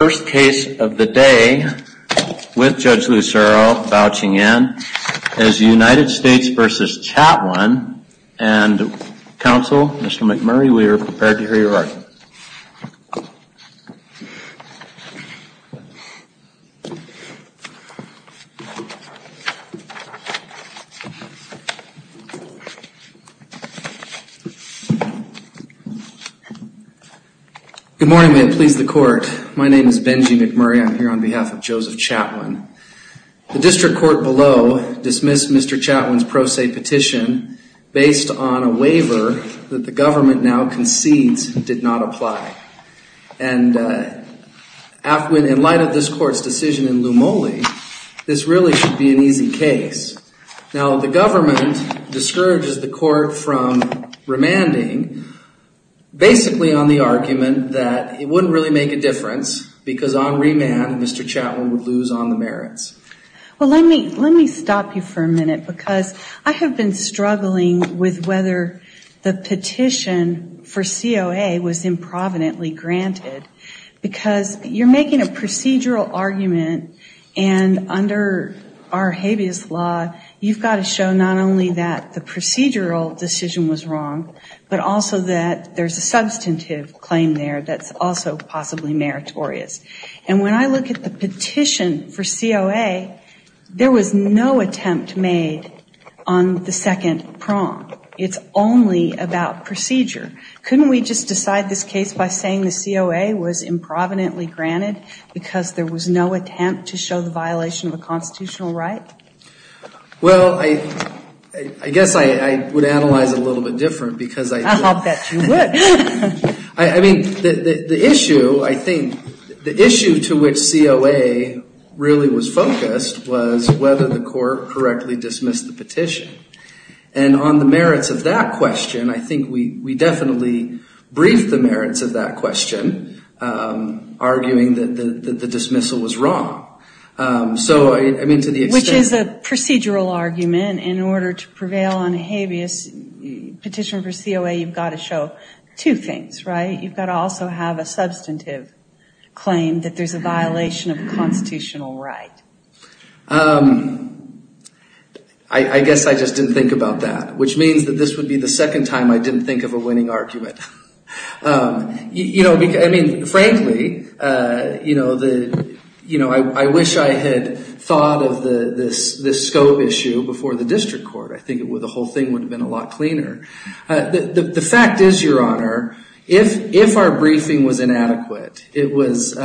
First case of the day, with Judge Lucero vouching in, is United States v. Chatwin and counsel Mr. McMurray, we are prepared to hear your argument. Good morning, may it please the court. My name is Benji McMurray. I'm here on behalf of Joseph Chatwin. The district court below dismissed Mr. Chatwin's pro se petition based on a waiver that the government now concedes did not apply. And in light of this court's decision in Lumole, this really should be an easy case. Now, the government discourages the court from remanding, basically on the argument that it wouldn't really make a difference, because on remand, Mr. Chatwin would lose on the merits. Well, let me stop you for a minute, because I have been struggling with whether the petition for COA was improvidently granted, because you're making a procedural argument, and under our habeas law, you've got to show not only that the procedural decision was wrong, but also that there's a substantive claim there that's also possibly meritorious. And when I look at the petition for COA, there was no attempt made on the second prong. It's only about procedure. Couldn't we just decide this case by saying the COA was improvidently granted, because there was no attempt to show the violation of a constitutional right? Well, I guess I would analyze it a little bit different, because I think... I bet you would. I mean, the issue, I think, the issue to which COA really was focused was whether the court correctly dismissed the petition. And on the merits of that question, I think we definitely briefed the merits of that question, arguing that the dismissal was wrong. So, I mean, to the extent... Which is a procedural argument. In order to prevail on a habeas petition for COA, you've got to show two things, right? You've got to also have a substantive claim that there's a violation of a constitutional right. I guess I just didn't think about that. Which means that this would be the second time I didn't think of a winning argument. You know, I mean, frankly, you know, I wish I had thought of this scope issue before the district court. I think the whole thing would have been a lot cleaner. The fact is, Your Honor, if our briefing was inadequate, it was...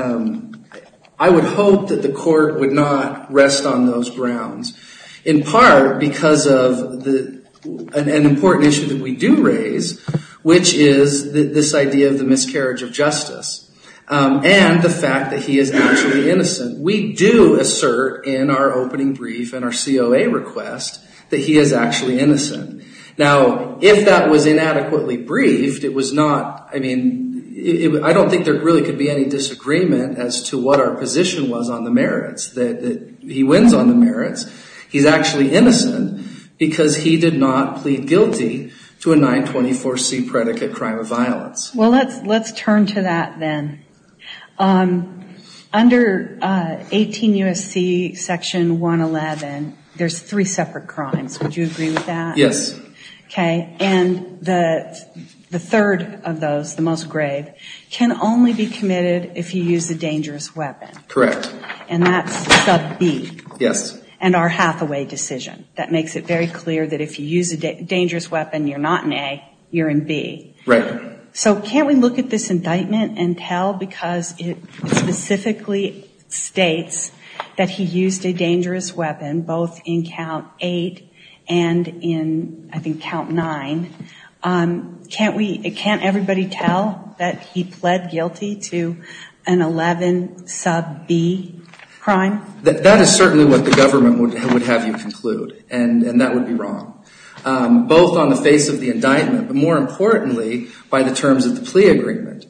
I would hope that the court would not rest on those grounds. In part because of an important issue that we do raise, which is this idea of the miscarriage of justice. And the fact that he is actually innocent. We do assert in our opening brief and our COA request that he is actually innocent. Now, if that was inadequately briefed, it was not... I mean, I don't think there really could be any disagreement as to what our position was on the merits. That he wins on the merits. He's actually innocent because he did not plead guilty to a 924C predicate crime of violence. Well, let's turn to that then. Under 18 U.S.C. section 111, there's three separate crimes. Would you agree with that? Yes. Okay. And the third of those, the most grave, can only be committed if he used a dangerous weapon. Correct. And that's sub B. Yes. And our Hathaway decision. That makes it very clear that if you use a dangerous weapon, you're not in A, you're in B. Right. So can't we look at this indictment and tell? Because it specifically states that he used a dangerous weapon, both in count 8 and in, I think, count 9. Can't everybody tell that he pled guilty to an 11 sub B crime? That is certainly what the government would have you conclude. And that would be wrong. Both on the face of the indictment, but more importantly, by the terms of the plea agreement.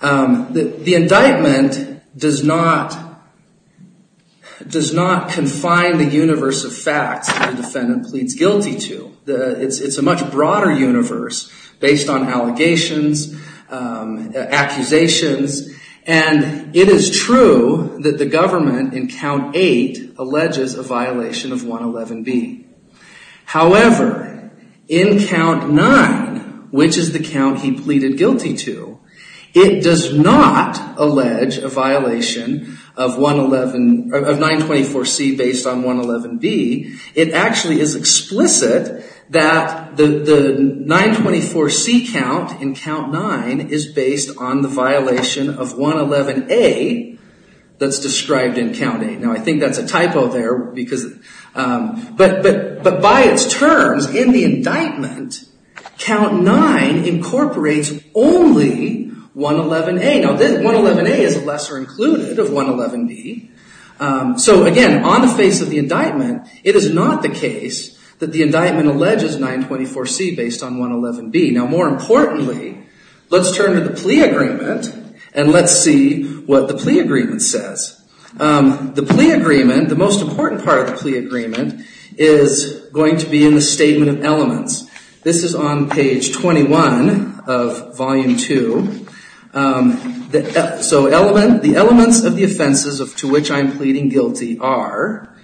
The indictment does not confine the universe of facts that the defendant pleads guilty to. It's a much broader universe based on allegations, accusations. And it is true that the government in count 8 alleges a violation of 111B. However, in count 9, which is the count he pleaded guilty to, it does not allege a violation of 924C based on 111B. It actually is explicit that the 924C count in count 9 is based on the violation of 111A that's described in count 8. Now, I think that's a typo there. But by its terms, in the indictment, count 9 incorporates only 111A. Now, 111A is a lesser included of 111B. So, again, on the face of the indictment, it is not the case that the indictment alleges 924C based on 111B. Now, more importantly, let's turn to the plea agreement and let's see what the plea agreement says. The plea agreement, the most important part of the plea agreement, is going to be in the statement of elements. This is on page 21 of volume 2. So, the elements of the offenses to which I am pleading guilty are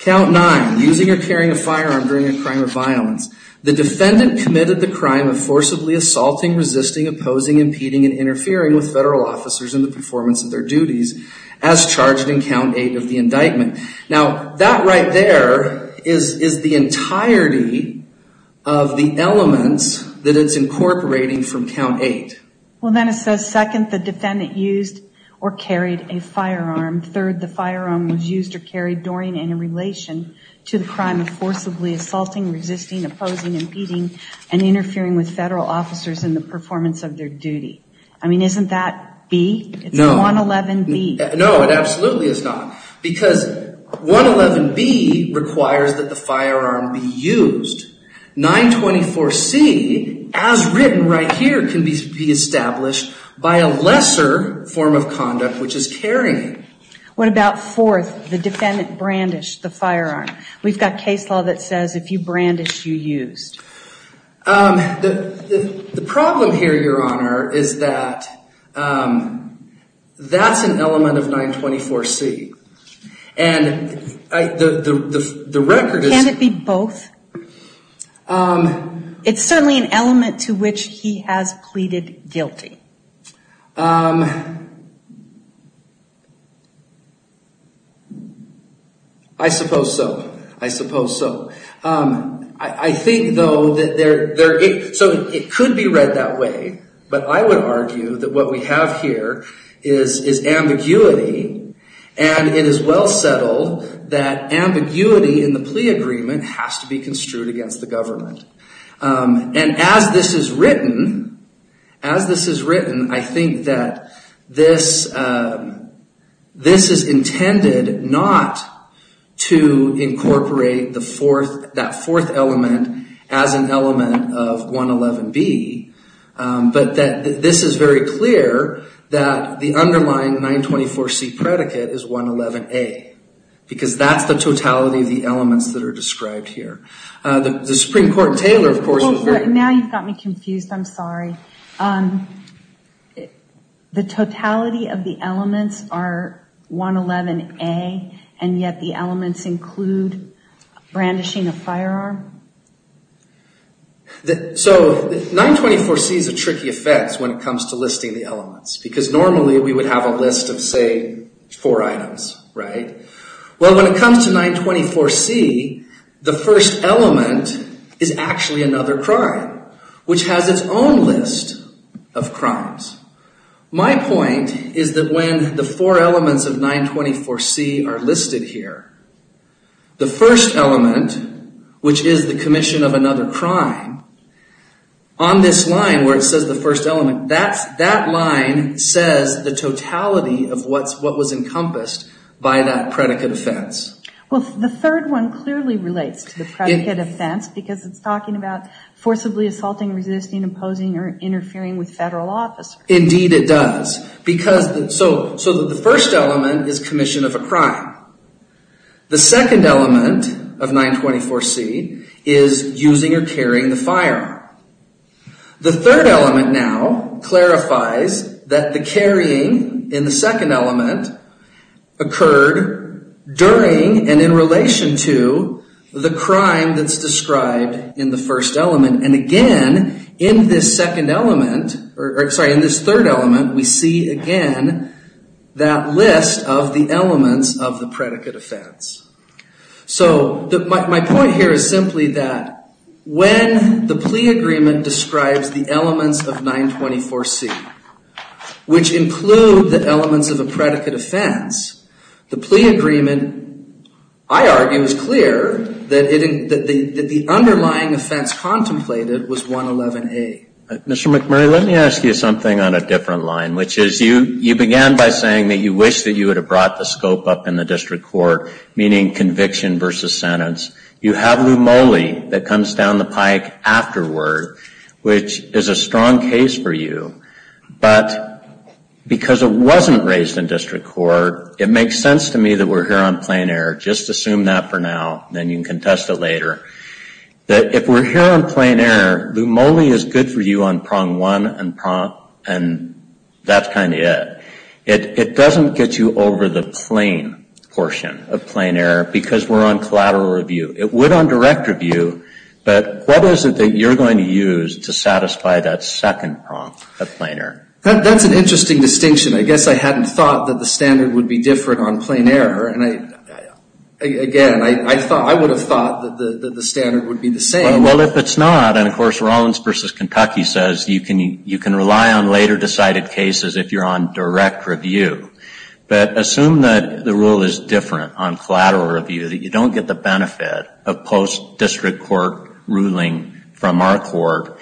count 9, using or carrying a firearm during a crime of violence. The defendant committed the crime of forcibly assaulting, resisting, opposing, impeding, and interfering with federal officers in the performance of their duties as charged in count 8 of the indictment. Now, that right there is the entirety of the elements that it's incorporating from count 8. Well, then it says, second, the defendant used or carried a firearm. Third, the firearm was used or carried during and in relation to the crime of forcibly assaulting, resisting, opposing, impeding, and interfering with federal officers in the performance of their duty. I mean, isn't that B? No. It's 111B. No, it absolutely is not. Because 111B requires that the firearm be used. 924C, as written right here, can be established by a lesser form of conduct, which is carrying. What about fourth, the defendant brandished the firearm? We've got case law that says if you brandished, you used. The problem here, Your Honor, is that that's an element of 924C. And the record is... It's certainly an element to which he has pleaded guilty. I suppose so. I suppose so. I think, though, that there... So it could be read that way. But I would argue that what we have here is ambiguity. And it is well settled that ambiguity in the plea agreement has to be construed against the government. And as this is written, I think that this is intended not to incorporate that fourth element as an element of 111B, but that this is very clear that the underlying 924C predicate is 111A. Because that's the totality of the elements that are described here. The Supreme Court, Taylor, of course... Now you've got me confused. I'm sorry. The totality of the elements are 111A, and yet the elements include brandishing a firearm? So 924C is a tricky effect when it comes to listing the elements. Because normally we would have a list of, say, four items, right? Well, when it comes to 924C, the first element is actually another crime, which has its own list of crimes. My point is that when the four elements of 924C are listed here, the first element, which is the commission of another crime, on this line where it says the first element, that line says the totality of what was encompassed by that predicate offense. Well, the third one clearly relates to the predicate offense, because it's talking about forcibly assaulting, resisting, imposing, or interfering with federal officers. Indeed it does. So the first element is commission of a crime. The second element of 924C is using or carrying the firearm. The third element now clarifies that the carrying in the second element occurred during and in relation to the crime that's described in the first element. And again, in this third element, we see again that list of the elements of the predicate offense. So my point here is simply that when the plea agreement describes the elements of 924C, which include the elements of a predicate offense, the plea agreement, I argue, is clear that the underlying offense contemplated was 111A. Mr. McMurray, let me ask you something on a different line, which is you began by saying that you wish that you would have brought the scope up in the district court, meaning conviction versus sentence. You have Lou Moley that comes down the pike afterward, which is a strong case for you. But because it wasn't raised in district court, it makes sense to me that we're here on plain error. Just assume that for now, and then you can contest it later. If we're here on plain error, Lou Moley is good for you on prong one, and that's kind of it. It doesn't get you over the plain portion of plain error because we're on collateral review. It would on direct review, but what is it that you're going to use to satisfy that second prong of plain error? That's an interesting distinction. I guess I hadn't thought that the standard would be different on plain error. And again, I would have thought that the standard would be the same. Well, if it's not, and of course Rollins v. Kentucky says you can rely on later decided cases if you're on direct review, but assume that the rule is different on collateral review, that you don't get the benefit of post-district court ruling from our court.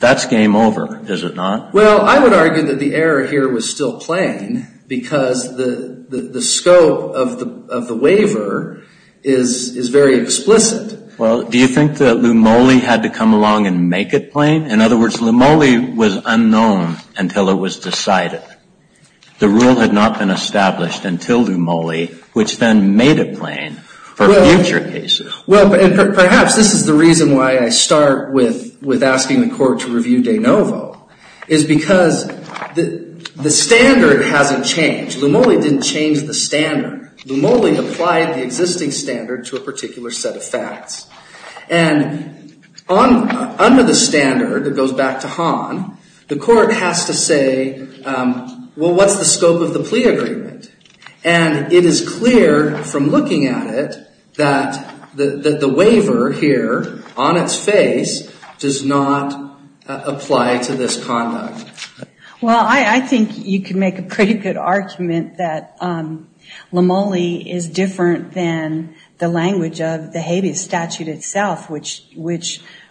That's game over, is it not? Well, I would argue that the error here was still plain because the scope of the waiver is very explicit. Well, do you think that Lou Moley had to come along and make it plain? In other words, Lou Moley was unknown until it was decided. The rule had not been established until Lou Moley, which then made it plain for future cases. Well, and perhaps this is the reason why I start with asking the court to review de novo, is because the standard hasn't changed. Lou Moley didn't change the standard. Lou Moley applied the existing standard to a particular set of facts. And under the standard, it goes back to Hahn, the court has to say, well, what's the scope of the plea agreement? And it is clear from looking at it that the waiver here on its face does not apply to this conduct. Well, I think you can make a pretty good argument that Lou Moley is different than the language of the habeas statute itself, which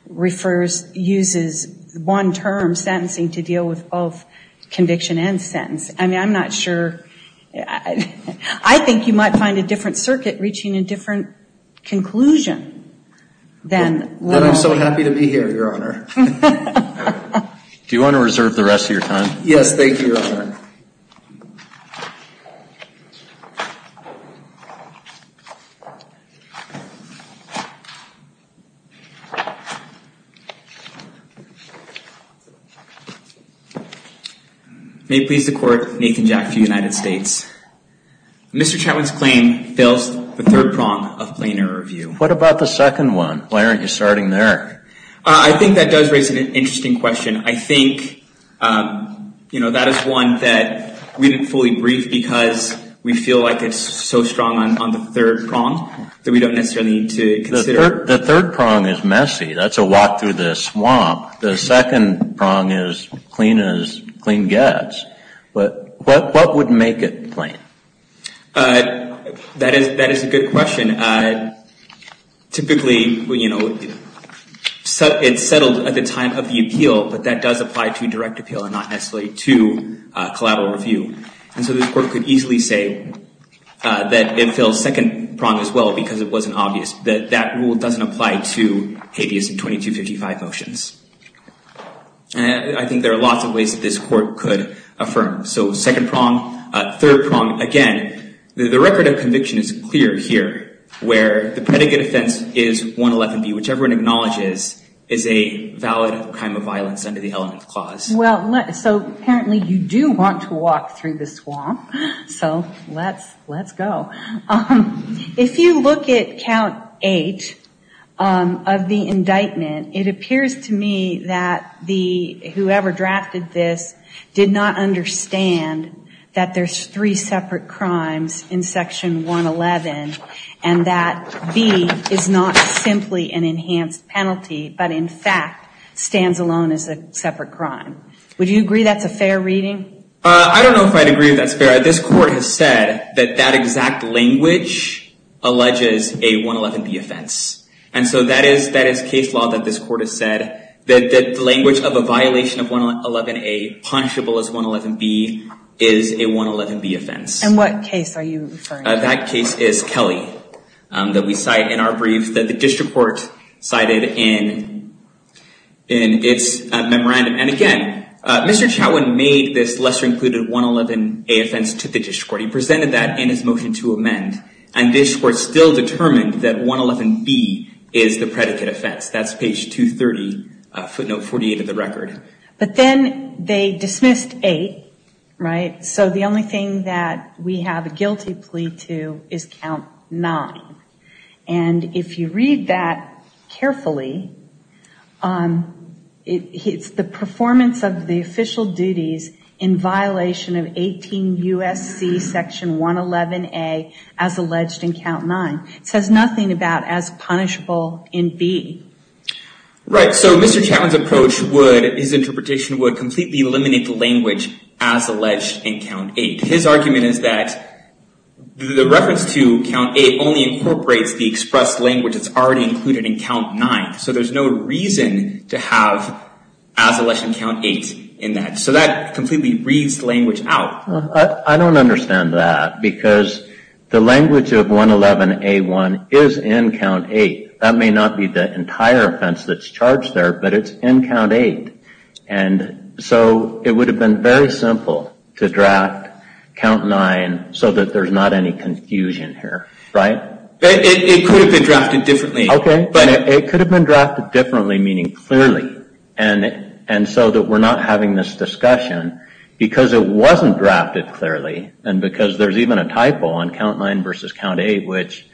refers, uses one-term sentencing to deal with both conviction and sentence. I mean, I'm not sure. I think you might find a different circuit reaching a different conclusion than Lou Moley. Then I'm so happy to be here, Your Honor. Do you want to reserve the rest of your time? Yes, thank you, Your Honor. May it please the Court, Nathan Jack for the United States. Mr. Chatwin's claim fails the third prong of plainer review. What about the second one? Why aren't you starting there? I think that does raise an interesting question. I think, you know, that is one that we didn't fully brief because we feel like it's so strong on the third prong that we don't necessarily need to consider. The third prong is messy. That's a walk through the swamp. The second prong is clean as clean gets. But what would make it plain? That is a good question. Typically, you know, it's settled at the time of the appeal, but that does apply to direct appeal and not necessarily to collateral review. And so this Court could easily say that it fails second prong as well because it wasn't obvious. That rule doesn't apply to habeas in 2255 motions. And I think there are lots of ways that this Court could affirm. So second prong, third prong, again, the record of conviction is clear here where the predicate offense is 111B, which everyone acknowledges is a valid crime of violence under the element clause. Well, so apparently you do want to walk through the swamp. So let's go. If you look at count eight of the indictment, it appears to me that whoever drafted this did not understand that there's three separate crimes in section 111 and that B is not simply an enhanced penalty but, in fact, stands alone as a separate crime. Would you agree that's a fair reading? I don't know if I'd agree that's fair. This Court has said that that exact language alleges a 111B offense. And so that is case law that this Court has said that the language of a violation of 111A punishable as 111B is a 111B offense. And what case are you referring to? That case is Kelly that we cite in our brief that the district court cited in its memorandum. And, again, Mr. Chatwin made this lesser included 111A offense to the district court. He presented that in his motion to amend. And this Court still determined that 111B is the predicate offense. That's page 230, footnote 48 of the record. But then they dismissed eight, right? So the only thing that we have a guilty plea to is count nine. And if you read that carefully, it's the performance of the official duties in violation of 18 U.S.C. section 111A as alleged in count nine. It says nothing about as punishable in B. Right. So Mr. Chatwin's approach would, his interpretation would completely eliminate the language as alleged in count eight. His argument is that the reference to count eight only incorporates the expressed language that's already included in count nine. So there's no reason to have as alleged in count eight in that. So that completely reads language out. I don't understand that because the language of 111A1 is in count eight. That may not be the entire offense that's charged there, but it's in count eight. And so it would have been very simple to draft count nine so that there's not any confusion here. Right? It could have been drafted differently. Okay. But it could have been drafted differently, meaning clearly. And so that we're not having this discussion because it wasn't drafted clearly. And because there's even a typo on count nine versus count eight, which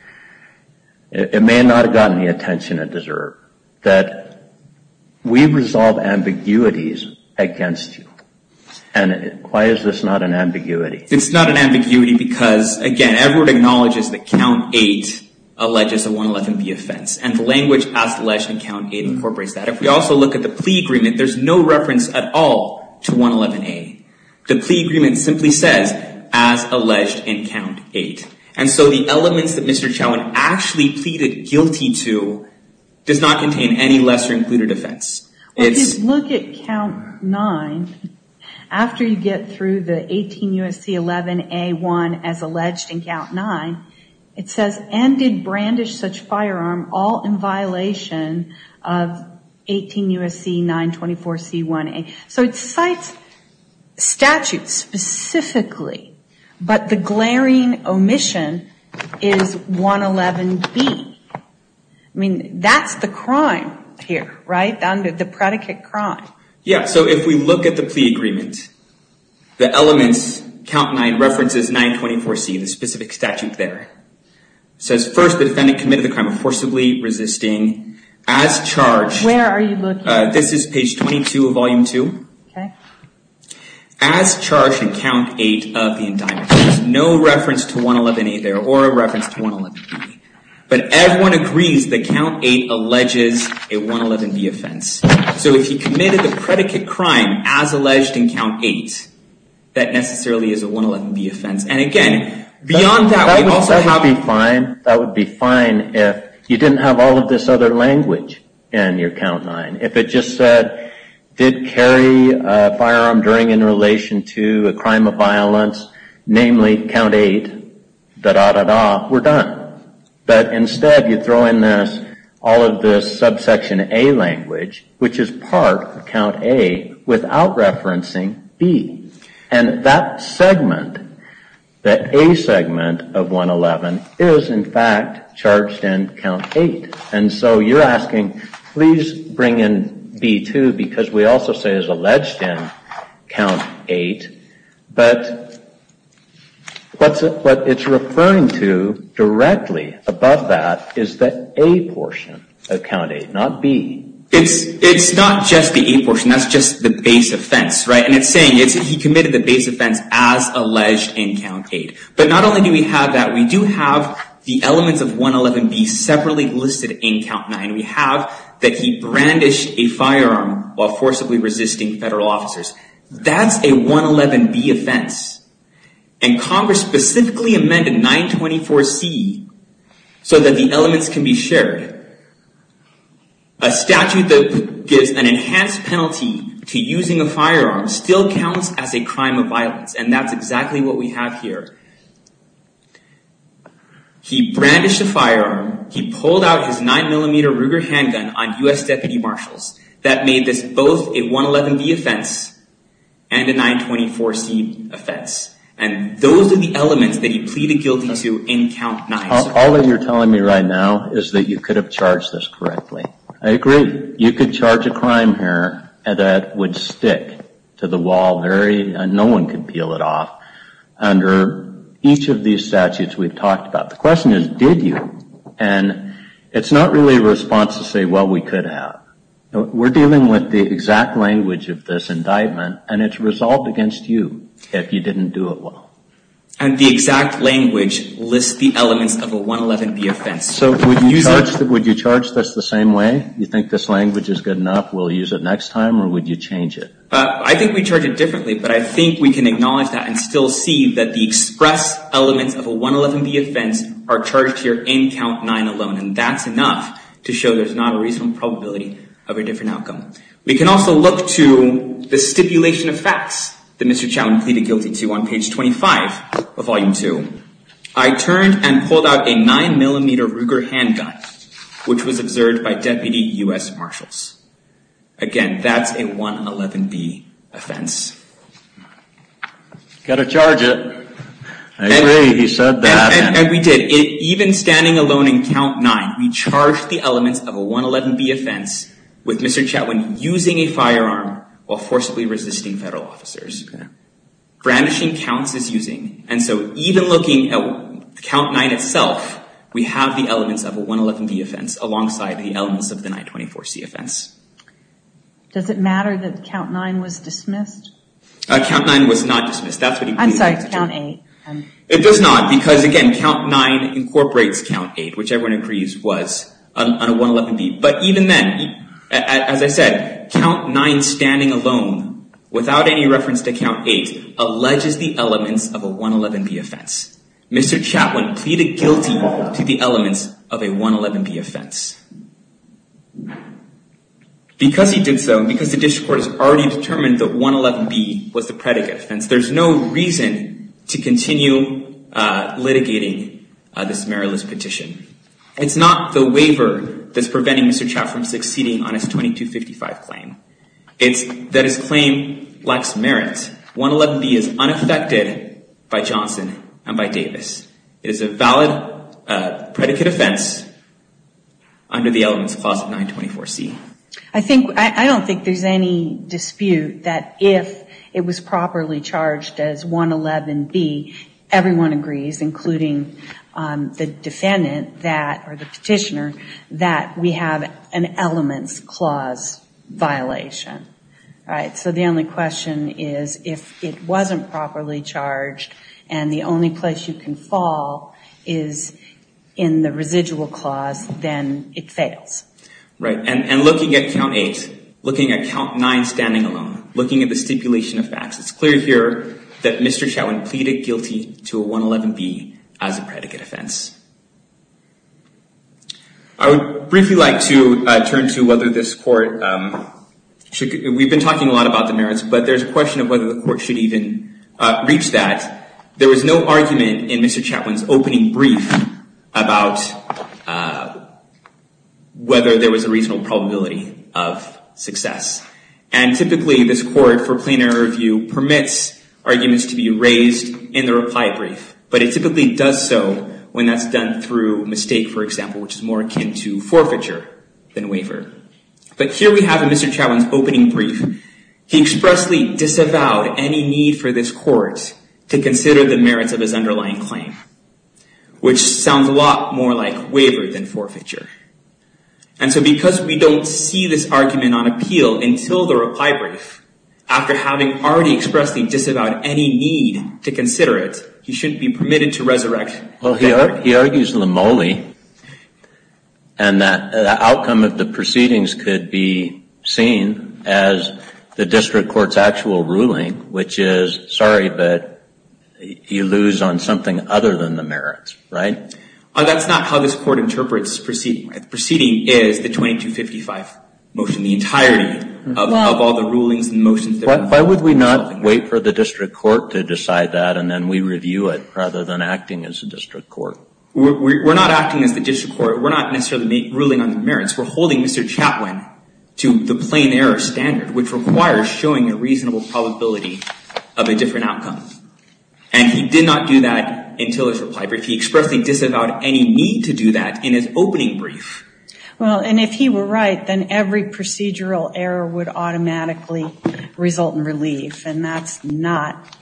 it may not have gotten the attention it deserved. That we resolve ambiguities against you. And why is this not an ambiguity? It's not an ambiguity because, again, everyone acknowledges that count eight alleges a 111B offense. And the language as alleged in count eight incorporates that. If we also look at the plea agreement, there's no reference at all to 111A. The plea agreement simply says as alleged in count eight. And so the elements that Mr. Chauhan actually pleaded guilty to does not contain any lesser included offense. If you look at count nine, after you get through the 18 U.S.C. 11A1 as alleged in count nine, it says, and did brandish such firearm all in violation of 18 U.S.C. 924C1A. So it cites statutes specifically, but the glaring omission is 111B. I mean, that's the crime here, right, under the predicate crime. Yeah, so if we look at the plea agreement, the elements, count nine references 924C, the specific statute there. It says, first, the defendant committed the crime of forcibly resisting as charged. Where are you looking? This is page 22 of volume two. As charged in count eight of the indictment. There's no reference to 111A there or a reference to 111B. But everyone agrees that count eight alleges a 111B offense. So if he committed the predicate crime as alleged in count eight, that necessarily is a 111B offense. And again, beyond that, we also have. That would be fine. That would be fine if you didn't have all of this other language in your count nine. If it just said, did carry a firearm during in relation to a crime of violence, namely count eight, da-da-da-da, we're done. But instead, you throw in this, all of this subsection A language, which is part of count A without referencing B. And that segment, that A segment of 111, is, in fact, charged in count eight. And so you're asking, please bring in B, too, because we also say it's alleged in count eight. But what it's referring to directly above that is the A portion of count eight, not B. It's not just the A portion. That's just the base offense. And it's saying he committed the base offense as alleged in count eight. But not only do we have that, we do have the elements of 111B separately listed in count nine. We have that he brandished a firearm while forcibly resisting federal officers. That's a 111B offense. And Congress specifically amended 924C so that the elements can be shared. A statute that gives an enhanced penalty to using a firearm still counts as a crime of violence. And that's exactly what we have here. He brandished a firearm. He pulled out his 9mm Ruger handgun on U.S. Deputy Marshals. That made this both a 111B offense and a 924C offense. And those are the elements that he pleaded guilty to in count nine. All that you're telling me right now is that you could have charged this correctly. I agree. You could charge a crime here that would stick to the wall. No one could peel it off under each of these statutes we've talked about. The question is, did you? And it's not really a response to say, well, we could have. We're dealing with the exact language of this indictment. And it's resolved against you if you didn't do it well. And the exact language lists the elements of a 111B offense. So would you charge this the same way? You think this language is good enough? We'll use it next time? Or would you change it? I think we charge it differently. But I think we can acknowledge that and still see that the express elements of a 111B offense are charged here in count nine alone. And that's enough to show there's not a reasonable probability of a different outcome. We can also look to the stipulation of facts that Mr. Chatwin pleaded guilty to on page 25 of volume two. I turned and pulled out a 9mm Ruger handgun, which was observed by Deputy U.S. Marshals. Again, that's a 111B offense. Got to charge it. I agree. He said that. And we did. Even standing alone in count nine, we charged the elements of a 111B offense with Mr. Chatwin using a firearm while forcibly resisting federal officers. Brandishing counts is using. And so even looking at count nine itself, we have the elements of a 111B offense alongside the elements of the 924C offense. Does it matter that count nine was dismissed? Count nine was not dismissed. I'm sorry, count eight. It does not, because again, count nine incorporates count eight, which everyone agrees was on a 111B. But even then, as I said, count nine standing alone without any reference to count eight alleges the elements of a 111B offense. Mr. Chatwin pleaded guilty to the elements of a 111B offense. Because he did so, because the district court has already determined that 111B was the predicate offense, there's no reason to continue litigating this meritless petition. It's not the waiver that's preventing Mr. Chatwin from succeeding on his 2255 claim. It's that his claim lacks merit. 111B is unaffected by Johnson and by Davis. It is a valid predicate offense under the elements clause of 924C. I don't think there's any dispute that if it was properly charged as 111B, everyone agrees, including the defendant or the petitioner, that we have an elements clause violation. So the only question is if it wasn't properly charged and the only place you can fall is in the residual clause, then it fails. And looking at count eight, looking at count nine standing alone, looking at the stipulation of facts, it's clear here that Mr. Chatwin pleaded guilty to a 111B as a predicate offense. I would briefly like to turn to whether this court should, we've been talking a lot about the merits, but there's a question of whether the court should even reach that. There was no argument in Mr. Chatwin's opening brief about whether there was a reasonable probability of success. And typically, this court, for plain error review, permits arguments to be raised in the reply brief. But it typically does so when that's done through mistake, for example, which is more akin to forfeiture than waiver. But here we have in Mr. Chatwin's opening brief, he expressly disavowed any need for this court to consider the merits of his underlying claim, which sounds a lot more like waiver than forfeiture. And so because we don't see this argument on appeal until the reply brief, after having already expressly disavowed any need to consider it, he shouldn't be permitted to resurrect. Well, he argues limole. And the outcome of the proceedings could be seen as the district court's actual ruling, which is, sorry, but you lose on something other than the merits, right? That's not how this court interprets proceeding. Proceeding is the 2255 motion, the entirety of all the rulings and motions. Why would we not wait for the district court to decide that and then we review it rather than acting as a district court? We're not acting as the district court. We're not necessarily ruling on the merits. We're holding Mr. Chatwin to the plain error standard, which requires showing a reasonable probability of a different outcome. And he did not do that until his reply brief. He expressly disavowed any need to do that in his opening brief. Well, and if he were right, then every procedural error would automatically result in relief. And that's not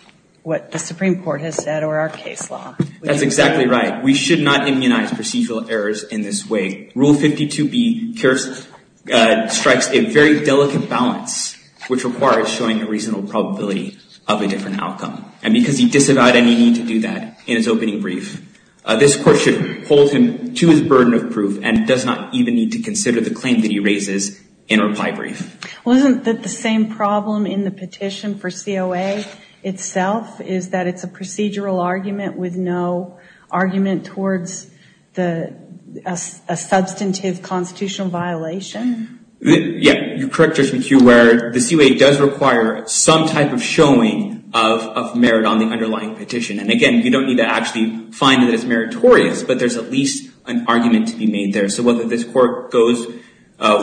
what the Supreme Court has said or our case law. That's exactly right. We should not immunize procedural errors in this way. Rule 52B strikes a very delicate balance, which requires showing a reasonable probability of a different outcome. And because he disavowed any need to do that in his opening brief, this court should hold him to his burden of proof and does not even need to consider the claim that he raises in a reply brief. Wasn't the same problem in the petition for COA itself, is that it's a procedural argument with no argument towards a substantive constitutional violation? Yeah, you're correct, Justice McHugh, where the COA does require some type of showing of merit on the underlying petition. And again, you don't need to actually find that it's meritorious, but there's at least an argument to be made there. So whether this court goes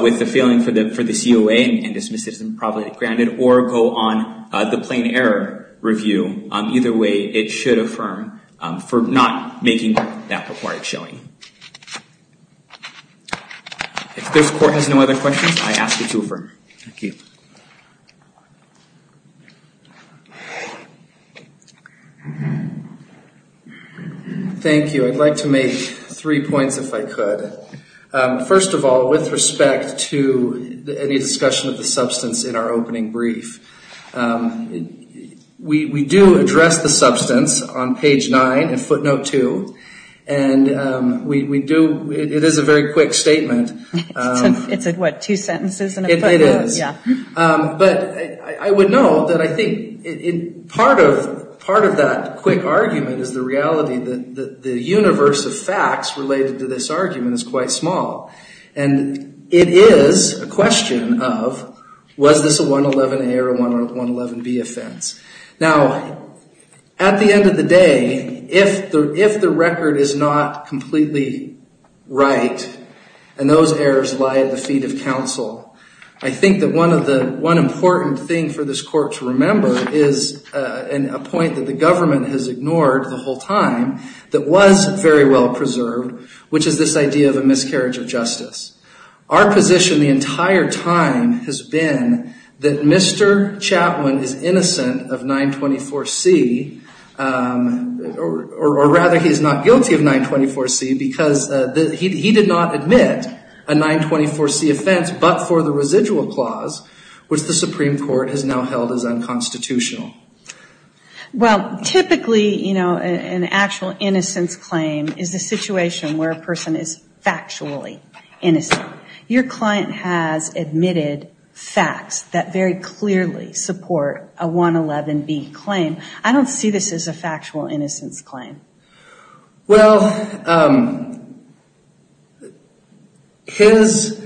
with the feeling for the COA and dismisses them probably granted or go on the plain error review, either way, it should affirm for not making that required showing. If this court has no other questions, I ask it to affirm. Thank you. Thank you. I'd like to make three points if I could. First of all, with respect to any discussion of the substance in our opening brief, we do address the substance on page 9 in footnote 2, and it is a very quick statement. It's what, two sentences in a footnote? It is. But I would note that I think part of that quick argument is the reality that the universe of facts related to this argument is quite small. And it is a question of, was this a 111A or a 111B offense? Now, at the end of the day, if the record is not completely right, and those errors lie at the feet of counsel, I think that one important thing for this court to remember is a point that the government has ignored the whole time that was very well preserved, which is this idea of a miscarriage of justice. Our position the entire time has been that Mr. Chapman is innocent of 924C, or rather he is not guilty of 924C because he did not admit a 924C offense but for the residual clause, which the Supreme Court has now held as unconstitutional. Well, typically, you know, an actual innocence claim is a situation where a person is factually innocent. Your client has admitted facts that very clearly support a 111B claim. I don't see this as a factual innocence claim. Well, his,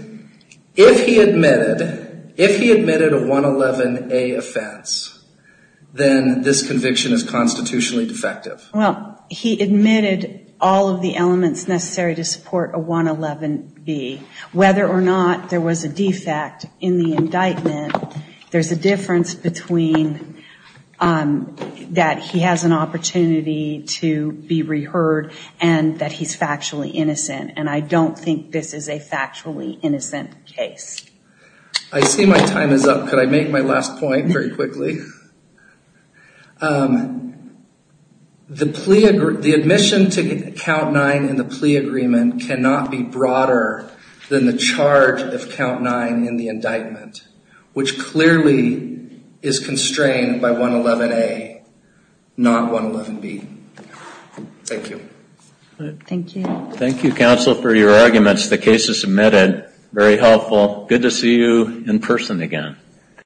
if he admitted, if he admitted a 111A offense, then this conviction is constitutionally defective. Well, he admitted all of the elements necessary to support a 111B. Whether or not there was a defect in the indictment, there's a difference between that he has an opportunity to be reheard and that he's factually innocent, and I don't think this is a factually innocent case. I see my time is up. Could I make my last point very quickly? The plea, the admission to Count 9 in the plea agreement cannot be broader than the charge of Count 9 in the indictment, which clearly is constrained by 111A, not 111B. Thank you. Thank you. Thank you, counsel, for your arguments. The case is submitted. Very helpful. Good to see you in person again.